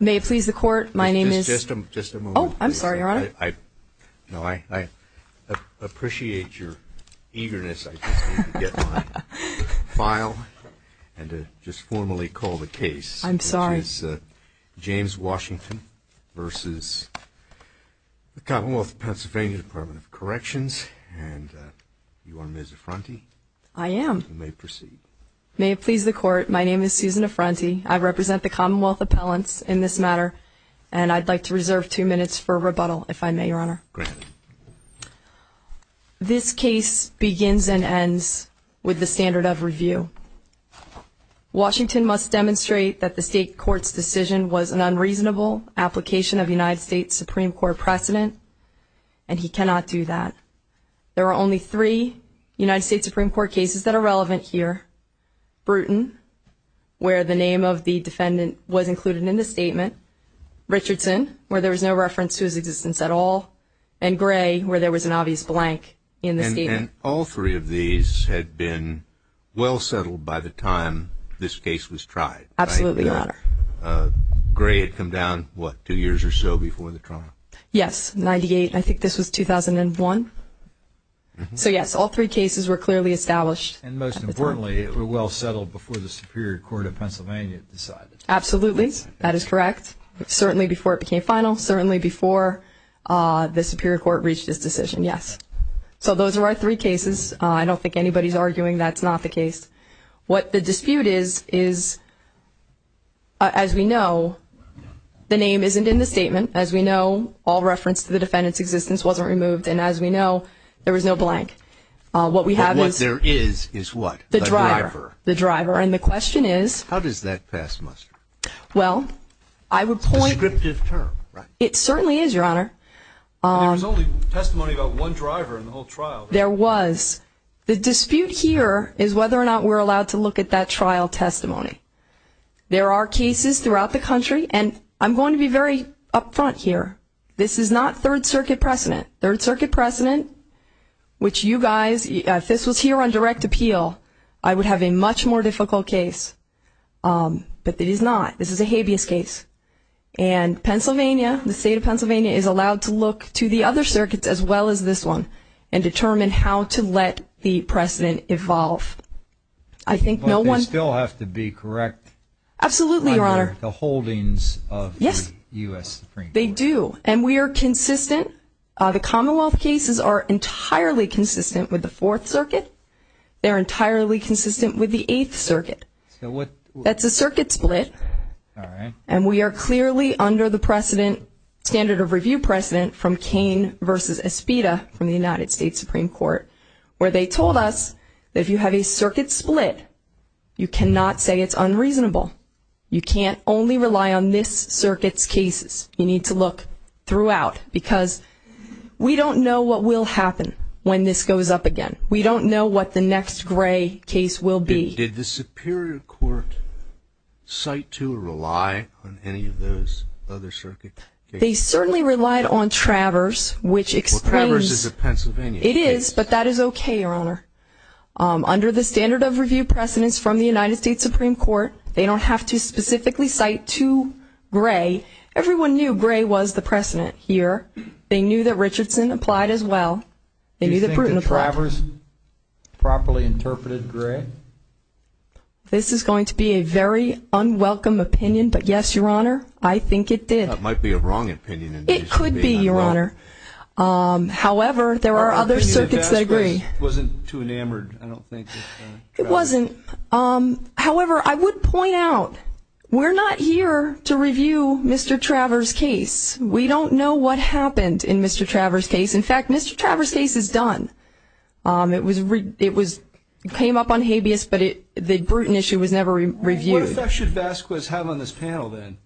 May it please the Court, my name is...Just a moment. Oh, I'm sorry, Your Honor. No, I appreciate your eagerness. I just need to get my file and to just formally call the case. I'm sorry. Which is James Washington versus the Commonwealth of Pennsylvania Department of Corrections. And you are Ms. Affronti? I am. You may proceed. May it please the Court, my name is Susan Affronti. I represent the Commonwealth appellants in this matter. And I'd like to reserve two minutes for rebuttal, if I may, Your Honor. Go ahead. This case begins and ends with the standard of review. Washington must demonstrate that the state court's decision was an unreasonable application of United States Supreme Court precedent. And he cannot do that. There are only three United States Supreme Court cases that are relevant here. Bruton, where the name of the defendant was included in the statement. Richardson, where there was no reference to his existence at all. And Gray, where there was an obvious blank in the statement. And all three of these had been well settled by the time this case was tried, right? Absolutely, Your Honor. Gray had come down, what, two years or so before the trial? Yes, 98. I think this was 2001. So yes, all three cases were clearly established. And most importantly, it was well settled before the Superior Court of Pennsylvania decided. Absolutely, that is correct. Certainly before it became final. Certainly before the Superior Court reached its decision, yes. So those are our three cases. I don't think anybody's arguing that's not the case. What the dispute is, is, as we know, the name isn't in the statement. As we know, all reference to the defendant's existence wasn't removed. And as we know, there was no blank. What we have is... What there is, is what? The driver. The driver. And the question is... How does that pass muster? Well, I would point... It's a descriptive term. It certainly is, Your Honor. There was only testimony about one driver in the whole trial. There was. The dispute here is whether or not we're allowed to look at that trial testimony. There are cases throughout the country. And I'm going to be very upfront here. This is not Third Circuit precedent. Third Circuit precedent, which you guys... If this was here on direct appeal, I would have a much more difficult case. But it is not. This is a habeas case. And Pennsylvania, the State of Pennsylvania, is allowed to look to the other circuits as well as this one and determine how to let the precedent evolve. I think no one... But they still have to be correct... Absolutely, Your Honor. ...under the holdings of the U.S. Supreme Court. They do. And we are consistent. The Commonwealth cases are entirely consistent with the Fourth Circuit. They're entirely consistent with the Eighth Circuit. So what... That's a circuit split. All right. And we are clearly under the precedent, standard of review precedent, from Cain v. Espita from the United States Supreme Court, where they told us that if you have a circuit split, you cannot say it's unreasonable. You can't only rely on this circuit's cases. You need to look throughout because we don't know what will happen when this goes up again. We don't know what the next gray case will be. Did the Superior Court cite to or rely on any of those other circuit cases? They certainly relied on Travers, which explains... Well, Travers is a Pennsylvania case. It is, but that is okay, Your Honor. Under the standard of review precedents from the United States Supreme Court, they don't have to specifically cite to Gray. Everyone knew Gray was the precedent here. They knew that Richardson applied as well. They knew that Bruton applied. Do you think that Travers properly interpreted Gray? This is going to be a very unwelcome opinion, but yes, Your Honor, I think it did. That might be a wrong opinion. It could be, Your Honor. However, there are other circuits that agree. I don't think the investigation wasn't too enamored. It wasn't. However, I would point out we're not here to review Mr. Travers' case. We don't know what happened in Mr. Travers' case. In fact, Mr. Travers' case is done. It came up on habeas, but the Bruton issue was never reviewed. What effect should Vasquez have on this panel then?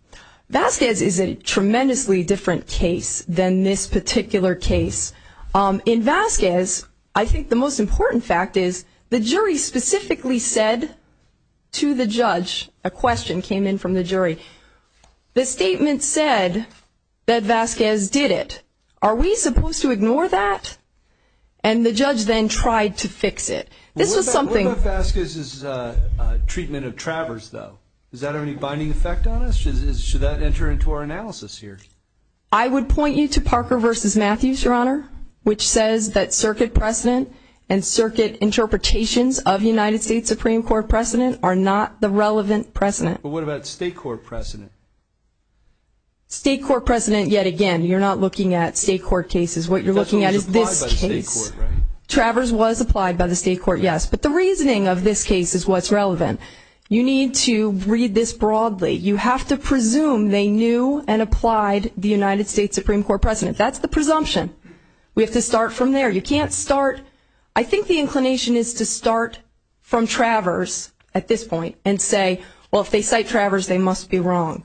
Vasquez is a tremendously different case than this particular case. In Vasquez, I think the most important fact is the jury specifically said to the judge, a question came in from the jury, the statement said that Vasquez did it. Are we supposed to ignore that? And the judge then tried to fix it. This was something. What about Vasquez's treatment of Travers, though? Does that have any binding effect on us? Should that enter into our analysis here? I would point you to Parker v. Matthews, Your Honor, which says that circuit precedent and circuit interpretations of United States Supreme Court precedent are not the relevant precedent. But what about state court precedent? State court precedent, yet again, you're not looking at state court cases. What you're looking at is this case. Travers was applied by the state court, yes. But the reasoning of this case is what's relevant. You need to read this broadly. You have to presume they knew and applied the United States Supreme Court precedent. That's the presumption. We have to start from there. You can't start. I think the inclination is to start from Travers at this point and say, well, if they cite Travers, they must be wrong.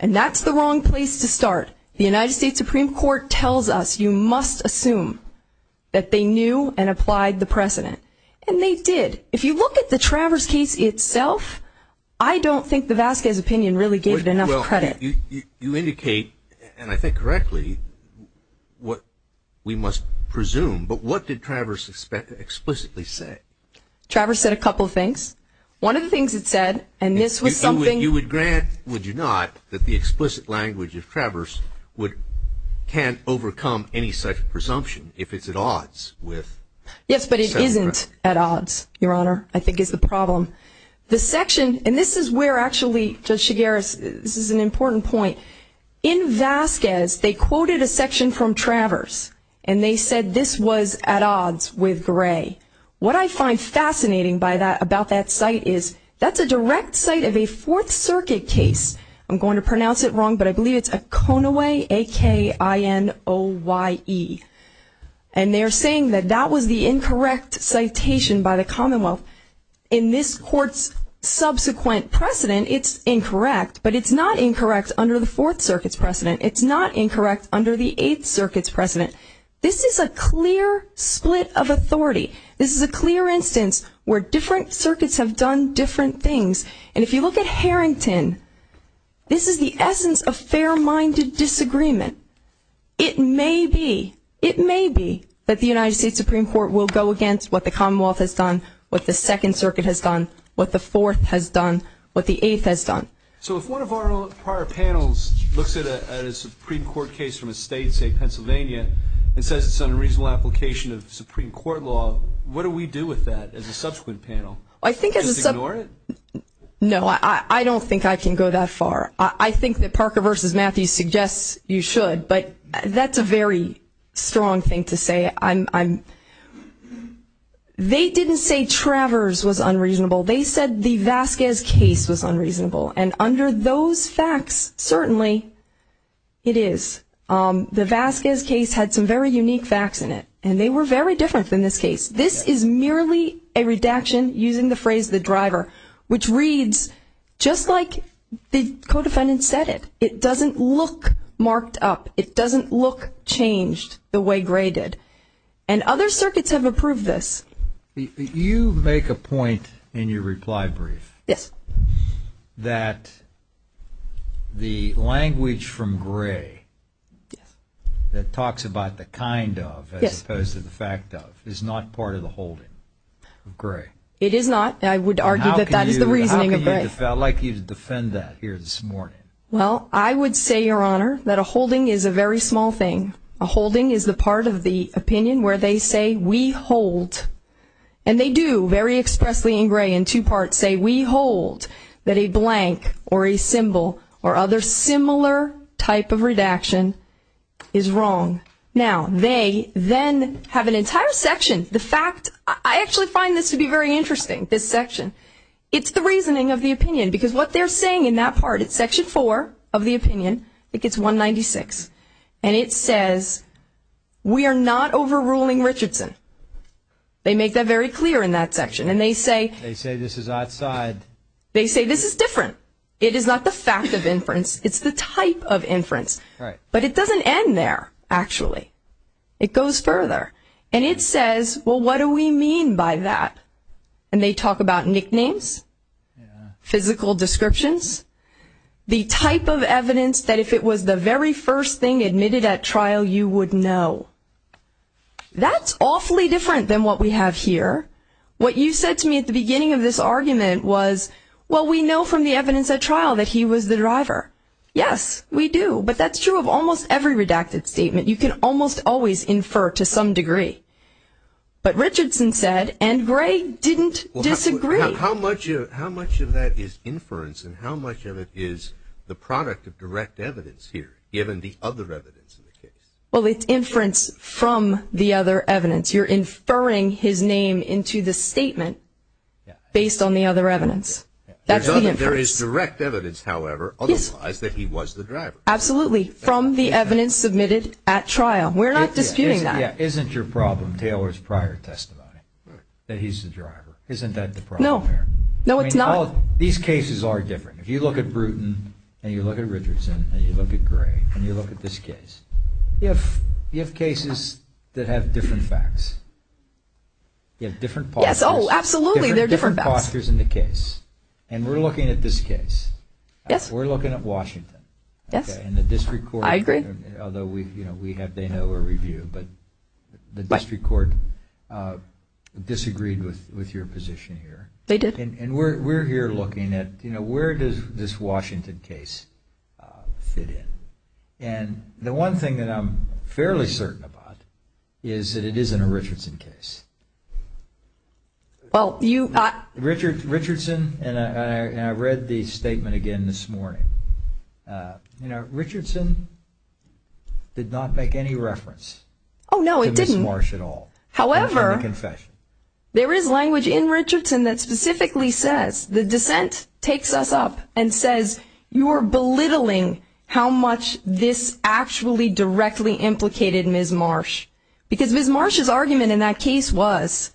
And that's the wrong place to start. The United States Supreme Court tells us you must assume that they knew and applied the precedent. And they did. If you look at the Travers case itself, I don't think the Vasquez opinion really gave it enough credit. You indicate, and I think correctly, what we must presume. But what did Travers explicitly say? Travers said a couple of things. One of the things it said, and this was something you would grant, would you not, that the explicit language of Travers can't overcome any such presumption if it's at odds with? Yes, but it isn't at odds, Your Honor, I think is the problem. The section, and this is where actually Judge Chigueras, this is an important point. In Vasquez, they quoted a section from Travers, and they said this was at odds with Gray. What I find fascinating about that site is that's a direct site of a Fourth Circuit case. I'm going to pronounce it wrong, but I believe it's a Konaway, A-K-I-N-O-Y-E. And they're saying that that was the incorrect citation by the Commonwealth. In this Court's subsequent precedent, it's incorrect, but it's not incorrect under the Fourth Circuit's precedent. It's not incorrect under the Eighth Circuit's precedent. This is a clear split of authority. This is a clear instance where different circuits have done different things. And if you look at Harrington, this is the essence of fair-minded disagreement. It may be, it may be that the United States Supreme Court will go against what the Commonwealth has done, what the Second Circuit has done, what the Fourth has done, what the Eighth has done. So if one of our prior panels looks at a Supreme Court case from a state, say Pennsylvania, and says it's an unreasonable application of Supreme Court law, what do we do with that as a subsequent panel? Just ignore it? No, I don't think I can go that far. I think that Parker v. Matthews suggests you should, but that's a very strong thing to say. They didn't say Travers was unreasonable. They said the Vasquez case was unreasonable. And under those facts, certainly it is. The Vasquez case had some very unique facts in it, and they were very different than this case. This is merely a redaction using the phrase the driver, which reads just like the co-defendant said it. It doesn't look marked up. It doesn't look changed the way Gray did. And other circuits have approved this. You make a point in your reply brief that the language from Gray that talks about the kind of as opposed to the fact of is not part of the holding of Gray. It is not. I would argue that that is the reasoning of Gray. How can you defend that here this morning? Well, I would say, Your Honor, that a holding is a very small thing. A holding is the part of the opinion where they say we hold, and they do very expressly in Gray in two parts, say we hold that a blank or a symbol or other similar type of redaction is wrong. Now, they then have an entire section. The fact, I actually find this to be very interesting, this section. It's the reasoning of the opinion because what they're saying in that part, it's Section 4 of the opinion. It gets 196, and it says we are not overruling Richardson. They make that very clear in that section, and they say this is different. It is not the fact of inference. It's the type of inference. But it doesn't end there, actually. It goes further, and it says, well, what do we mean by that? And they talk about nicknames, physical descriptions, the type of evidence that if it was the very first thing admitted at trial, you would know. That's awfully different than what we have here. What you said to me at the beginning of this argument was, well, we know from the evidence at trial that he was the driver. Yes, we do, but that's true of almost every redacted statement. You can almost always infer to some degree. But Richardson said, and Gray didn't disagree. How much of that is inference, and how much of it is the product of direct evidence here, given the other evidence in the case? Well, it's inference from the other evidence. You're inferring his name into the statement based on the other evidence. There is direct evidence, however, otherwise, that he was the driver. Absolutely, from the evidence submitted at trial. We're not disputing that. Isn't your problem Taylor's prior testimony, that he's the driver? Isn't that the problem here? No, it's not. These cases are different. If you look at Bruton, and you look at Richardson, and you look at Gray, and you look at this case, you have cases that have different facts. You have different postures. Yes, oh, absolutely. There are different facts. Different postures in the case. And we're looking at this case. Yes. We're looking at Washington. Yes. And the district court. I agree. Although they know a review, but the district court disagreed with your position here. They did. And we're here looking at where does this Washington case fit in? And the one thing that I'm fairly certain about is that it isn't a Richardson case. Richardson, and I read the statement again this morning, you know, Richardson did not make any reference to Ms. Marsh at all. Oh, no, it didn't. However, there is language in Richardson that specifically says, the dissent takes us up and says, you are belittling how much this actually directly implicated Ms. Marsh. Because Ms. Marsh's argument in that case was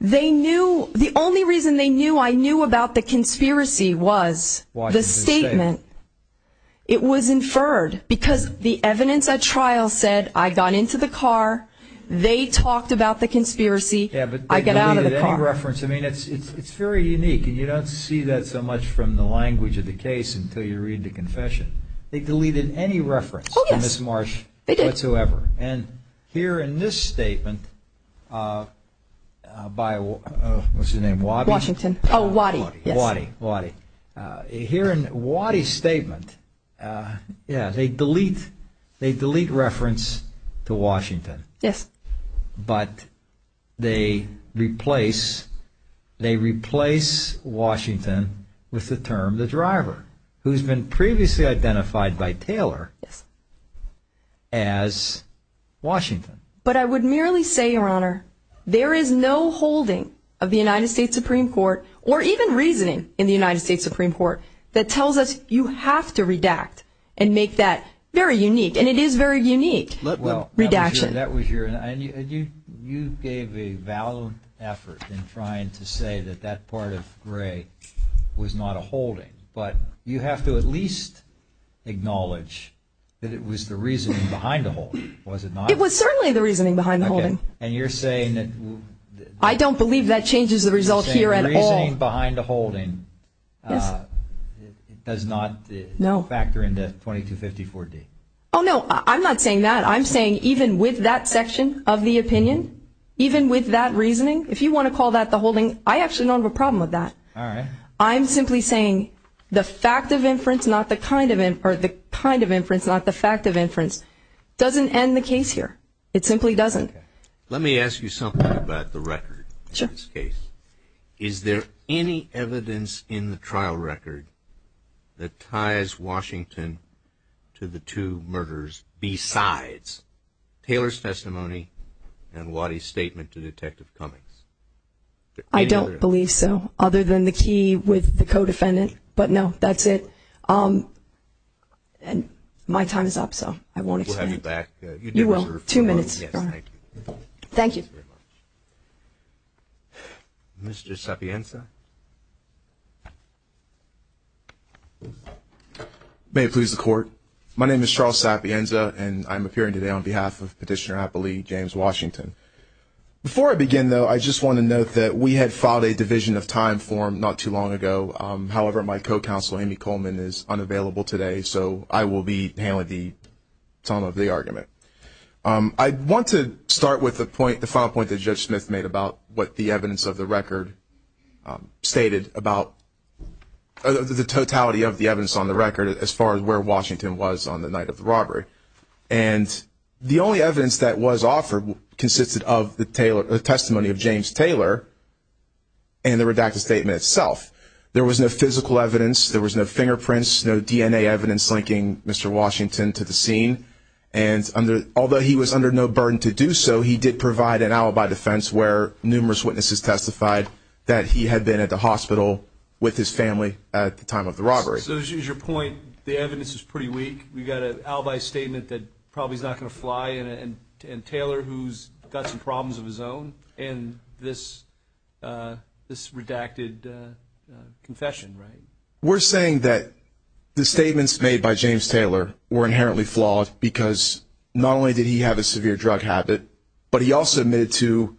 they knew, the only reason they knew I knew about the conspiracy was the statement. It was inferred. Because the evidence at trial said I got into the car, they talked about the conspiracy, I get out of the car. They didn't delete any reference. I mean, it's very unique. And you don't see that so much from the language of the case until you read the confession. They deleted any reference to Ms. Marsh whatsoever. They did. And here in this statement by, what's his name, Waddy? Washington. Oh, Waddy, yes. Waddy, Waddy. Here in Waddy's statement, yeah, they delete reference to Washington. Yes. But they replace Washington with the term the driver, who's been previously identified by Taylor as Washington. But I would merely say, Your Honor, there is no holding of the United States Supreme Court, or even reasoning in the United States Supreme Court, that tells us you have to redact and make that very unique. And it is very unique, redaction. Well, that was your – and you gave a valid effort in trying to say that that part of Gray was not a holding. But you have to at least acknowledge that it was the reasoning behind the holding, was it not? It was certainly the reasoning behind the holding. Okay. And you're saying that – I don't believe that changes the result here at all. You're saying the reasoning behind the holding does not factor into 2254-D. Oh, no, I'm not saying that. I'm saying even with that section of the opinion, even with that reasoning, if you want to call that the holding, I actually don't have a problem with that. All right. I'm simply saying the fact of inference, not the kind of – or the kind of inference, not the fact of inference, doesn't end the case here. It simply doesn't. Let me ask you something about the record in this case. Sure. Is there any evidence in the trial record that ties Washington to the two murders besides Taylor's testimony and Waddy's statement to Detective Cummings? I don't believe so, other than the key with the co-defendant. But, no, that's it. And my time is up, so I won't explain it. We'll have you back. You will. Two minutes. Yes, thank you. Thank you. Thank you very much. Mr. Sapienza? May it please the Court, my name is Charles Sapienza, and I'm appearing today on behalf of Petitioner Appellee James Washington. Before I begin, though, I just want to note that we had filed a division of time form not too long ago. However, my co-counsel, Amy Coleman, is unavailable today, so I will be handling the sum of the argument. I want to start with the final point that Judge Smith made about what the evidence of the record stated, about the totality of the evidence on the record as far as where Washington was on the night of the robbery. And the only evidence that was offered consisted of the testimony of James Taylor and the redacted statement itself. There was no physical evidence. There was no fingerprints, no DNA evidence linking Mr. Washington to the scene. And although he was under no burden to do so, he did provide an alibi defense where numerous witnesses testified that he had been at the hospital with his family at the time of the robbery. So as your point, the evidence is pretty weak. We've got an alibi statement that probably is not going to fly, and Taylor, who's got some problems of his own in this redacted confession, right? We're saying that the statements made by James Taylor were inherently flawed because not only did he have a severe drug habit, but he also admitted to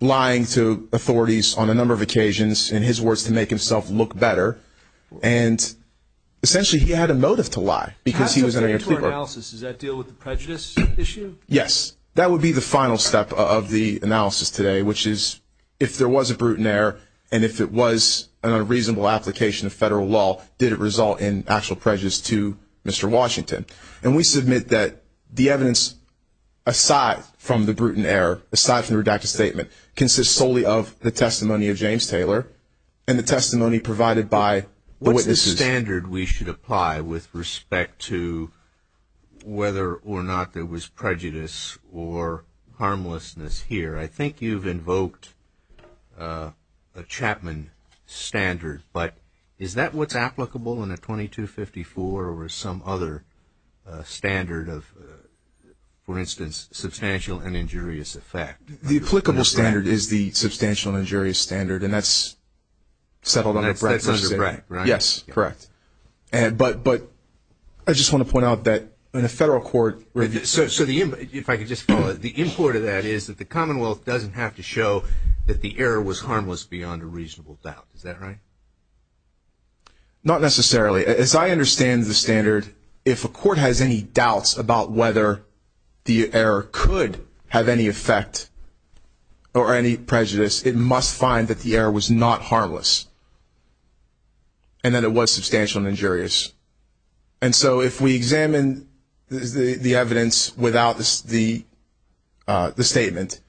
lying to authorities on a number of occasions, in his words, to make himself look better. And essentially he had a motive to lie because he was under your supervision. How does that fit into our analysis? Does that deal with the prejudice issue? Yes. That would be the final step of the analysis today, which is if there was a brutal error and if it was an unreasonable application of federal law, did it result in actual prejudice to Mr. Washington? And we submit that the evidence, aside from the brutal error, aside from the redacted statement, consists solely of the testimony of James Taylor and the testimony provided by the witnesses. What's the standard we should apply with respect to whether or not there was prejudice or harmlessness here? I think you've invoked a Chapman standard, but is that what's applicable in a 2254 or some other standard of, for instance, substantial and injurious effect? The applicable standard is the substantial and injurious standard, and that's settled under BRAC. That's under BRAC, right? Yes, correct. But I just want to point out that in a federal court review – So the – if I could just follow – the import of that is that the Commonwealth doesn't have to show that the error was harmless beyond a reasonable doubt. Is that right? Not necessarily. As I understand the standard, if a court has any doubts about whether the error could have any effect or any prejudice, it must find that the error was not harmless and that it was substantial and injurious. And so if we examine the evidence without the statement,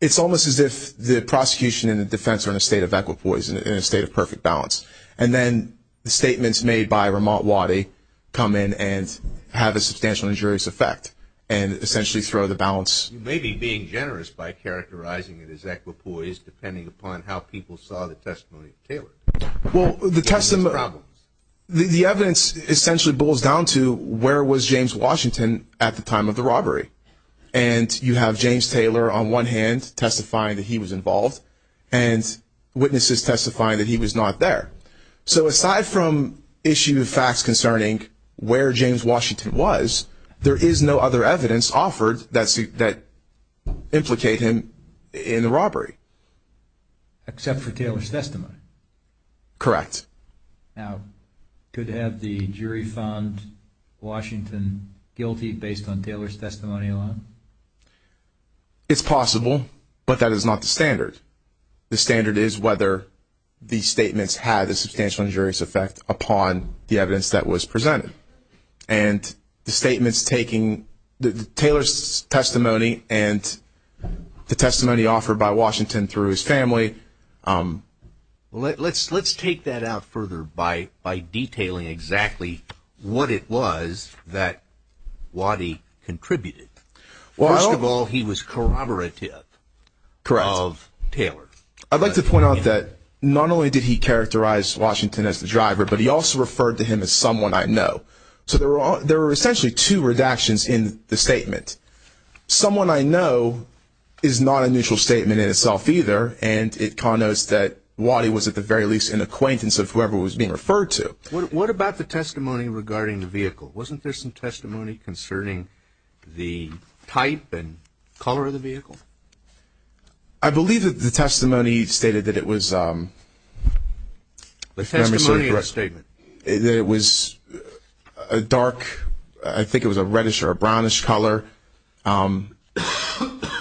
it's almost as if the prosecution and the defense are in a state of equipoise, in a state of perfect balance. And then the statements made by Rahmat Wadi come in and have a substantial and injurious effect and essentially throw the balance – You may be being generous by characterizing it as equipoise, depending upon how people saw the testimony of Taylor. Well, the testimony – The evidence essentially boils down to where was James Washington at the time of the robbery? And you have James Taylor on one hand testifying that he was involved and witnesses testifying that he was not there. So aside from issue of facts concerning where James Washington was, there is no other evidence offered that implicate him in the robbery. Except for Taylor's testimony? Correct. Now, could it have the jury found Washington guilty based on Taylor's testimony alone? It's possible, but that is not the standard. The standard is whether the statements had a substantial and injurious effect upon the evidence that was presented. And the statements taking – Taylor's testimony and the testimony offered by Washington through his family – Let's take that out further by detailing exactly what it was that Wadi contributed. First of all, he was corroborative of Taylor. I'd like to point out that not only did he characterize Washington as the driver, but he also referred to him as someone I know. So there were essentially two redactions in the statement. Someone I know is not a neutral statement in itself either, and it connotes that Wadi was at the very least an acquaintance of whoever he was being referred to. What about the testimony regarding the vehicle? Wasn't there some testimony concerning the type and color of the vehicle? I believe that the testimony stated that it was – The testimony in the statement? That it was a dark – I think it was a reddish or a brownish color. And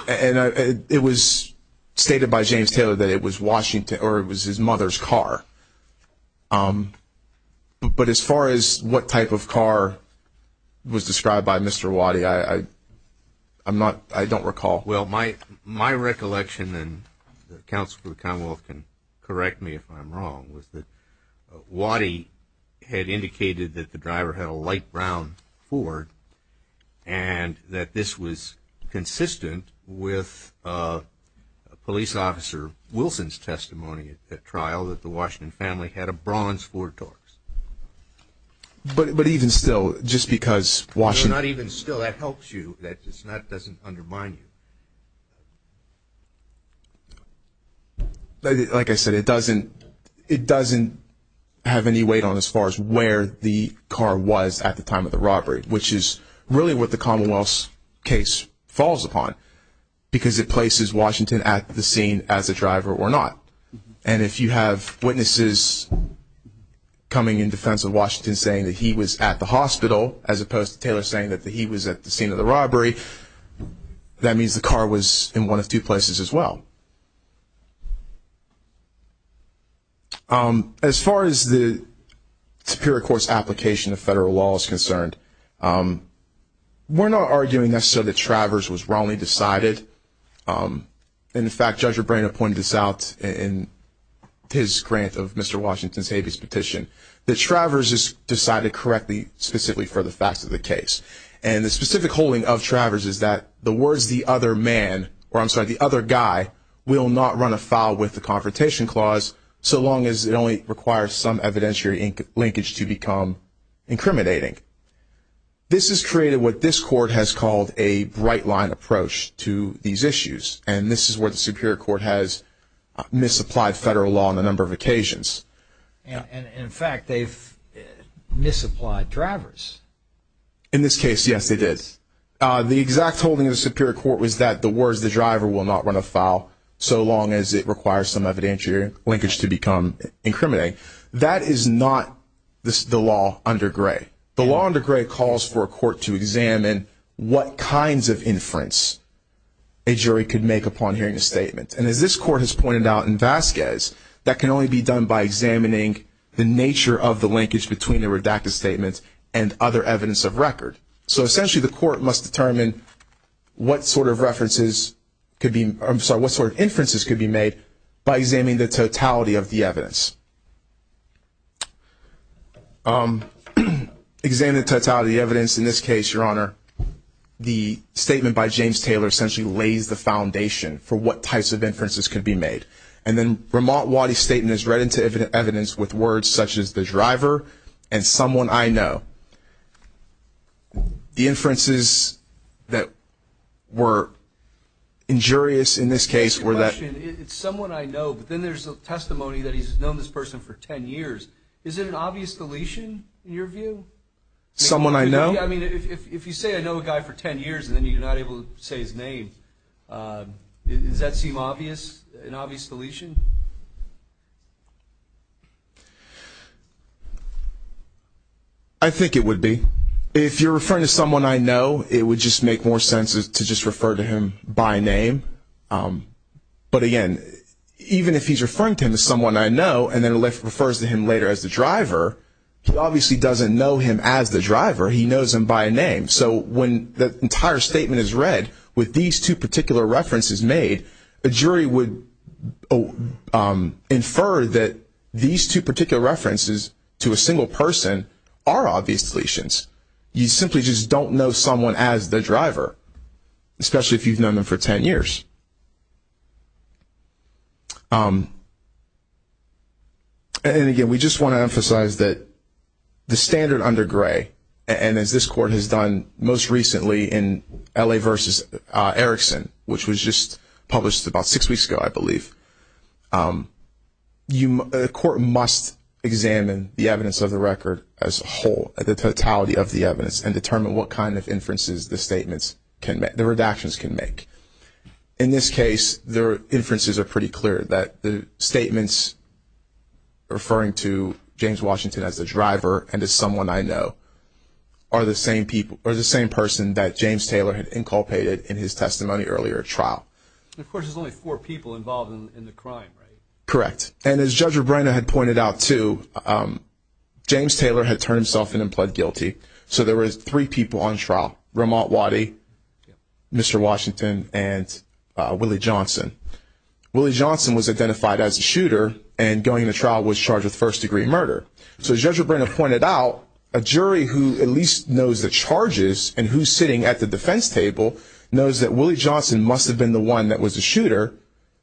it was stated by James Taylor that it was Washington – or it was his mother's car. But as far as what type of car was described by Mr. Wadi, I don't recall. Well, my recollection, and the Counsel for the Commonwealth can correct me if I'm wrong, was that Wadi had indicated that the driver had a light brown Ford and that this was consistent with Police Officer Wilson's testimony at trial, that the Washington family had a bronze Ford Torx. But even still, just because Washington – like I said, it doesn't have any weight on as far as where the car was at the time of the robbery, which is really what the Commonwealth's case falls upon, because it places Washington at the scene as a driver or not. And if you have witnesses coming in defense of Washington saying that he was at the hospital as opposed to Taylor saying that he was at the scene of the robbery, that means the car was in one of two places as well. As far as the Superior Court's application of federal law is concerned, we're not arguing necessarily that Travers was wrongly decided. In fact, Judge O'Brien pointed this out in his grant of Mr. Washington's habeas petition, that Travers is decided correctly specifically for the facts of the case. And the specific holding of Travers is that the words, the other man – or I'm sorry, the other guy – will not run afoul with the Confrontation Clause so long as it only requires some evidentiary linkage to become incriminating. This has created what this Court has called a bright-line approach to these issues, and this is where the Superior Court has misapplied federal law on a number of occasions. And in fact, they've misapplied Travers. In this case, yes, they did. The exact holding of the Superior Court was that the words, the driver will not run afoul so long as it requires some evidentiary linkage to become incriminating. That is not the law under Gray. The law under Gray calls for a court to examine what kinds of inference a jury could make upon hearing a statement. And as this Court has pointed out in Vasquez, that can only be done by examining the nature of the linkage between the redacted statements and other evidence of record. So essentially, the Court must determine what sort of references could be – I'm sorry, what sort of inferences could be made by examining the totality of the evidence. Examining the totality of the evidence, in this case, Your Honor, the statement by James Taylor essentially lays the foundation for what types of inferences could be made. And then Vermont Waddy's statement is read into evidence with words such as the driver and someone I know. The inferences that were injurious in this case were that – It's someone I know, but then there's a testimony that he's known this person for 10 years. Is it an obvious deletion in your view? Someone I know? I mean, if you say I know a guy for 10 years and then you're not able to say his name, does that seem obvious, an obvious deletion? I think it would be. If you're referring to someone I know, it would just make more sense to just refer to him by name. But again, even if he's referring to him as someone I know and then refers to him later as the driver, he obviously doesn't know him as the driver. He knows him by name. So when the entire statement is read with these two particular references made, a jury would infer that these two particular references to a single person are obvious deletions. You simply just don't know someone as the driver, especially if you've known them for 10 years. And again, we just want to emphasize that the standard under Gray, and as this court has done most recently in L.A. v. Erickson, which was just published about six weeks ago, I believe, the court must examine the evidence of the record as a whole, the totality of the evidence, and determine what kind of inferences the statements can make, the redactions can make. In this case, the inferences are pretty clear, that the statements referring to James Washington as the driver and as someone I know are the same person that James Taylor had inculpated in his testimony earlier at trial. Of course, there's only four people involved in the crime, right? Correct. And as Judge Rebrenna had pointed out, too, James Taylor had turned himself in and pled guilty. So there were three people on trial, Ramont Waddy, Mr. Washington, and Willie Johnson. Willie Johnson was identified as the shooter, and going to trial was charged with first-degree murder. So Judge Rebrenna pointed out a jury who at least knows the charges and who's sitting at the defense table knows that Willie Johnson must have been the one that was the shooter,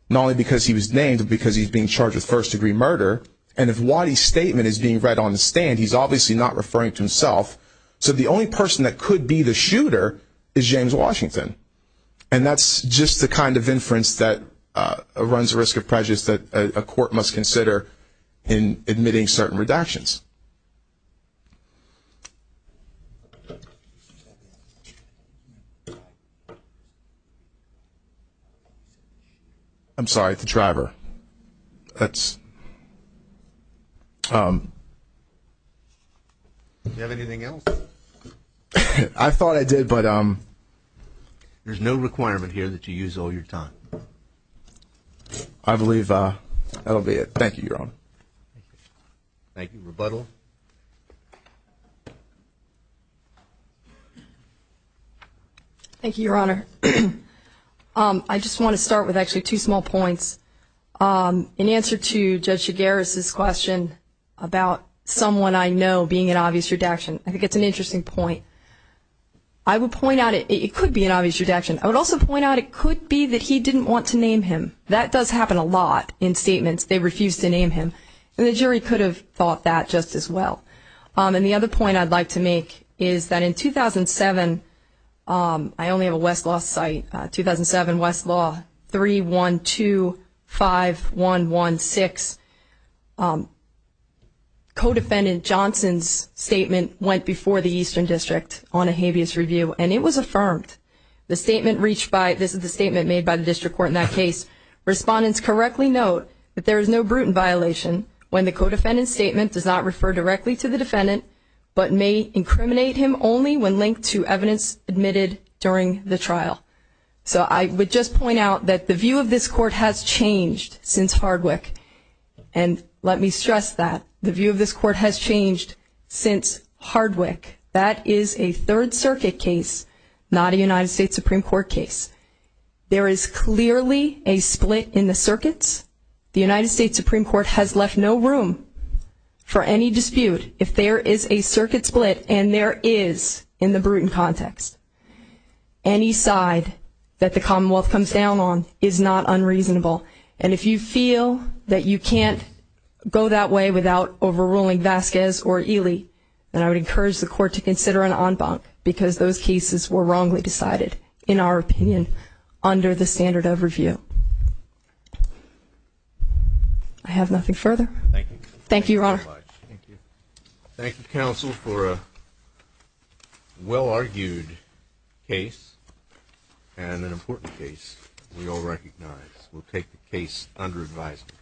not only because he was named, but because he's being charged with first-degree murder. And if Waddy's statement is being read on the stand, he's obviously not referring to himself, so the only person that could be the shooter is James Washington. And that's just the kind of inference that runs the risk of prejudice that a court must consider in admitting certain redactions. I'm sorry, the driver. That's... Do you have anything else? I thought I did, but... There's no requirement here that you use all your time. I believe that'll be it. Thank you, Your Honor. Thank you. Rebuttal? Thank you, Your Honor. I just want to start with actually two small points. In answer to Judge Shigaris' question about someone I know being an obvious redaction, I think it's an interesting point. I would point out it could be an obvious redaction. I would also point out it could be that he didn't want to name him. That does happen a lot in statements. They refuse to name him, and the jury could have thought that just as well. And the other point I'd like to make is that in 2007, I only have a Westlaw site, 2007 Westlaw 3125116, Codefendant Johnson's statement went before the Eastern District on a habeas review, and it was affirmed. This is the statement made by the district court in that case. Respondents correctly note that there is no brutal violation when the codefendant's statement does not refer directly to the defendant but may incriminate him only when linked to evidence admitted during the trial. So I would just point out that the view of this court has changed since Hardwick. And let me stress that. The view of this court has changed since Hardwick. That is a Third Circuit case, not a United States Supreme Court case. There is clearly a split in the circuits. The United States Supreme Court has left no room for any dispute if there is a circuit split, and there is in the brutal context. Any side that the Commonwealth comes down on is not unreasonable. And if you feel that you can't go that way without overruling Vasquez or Ely, then I would encourage the court to consider an en banc because those cases were wrongly decided, in our opinion, under the standard of review. I have nothing further. Thank you, Your Honor. Thank you, counsel, for a well-argued case and an important case we all recognize. We'll take the case under advisement.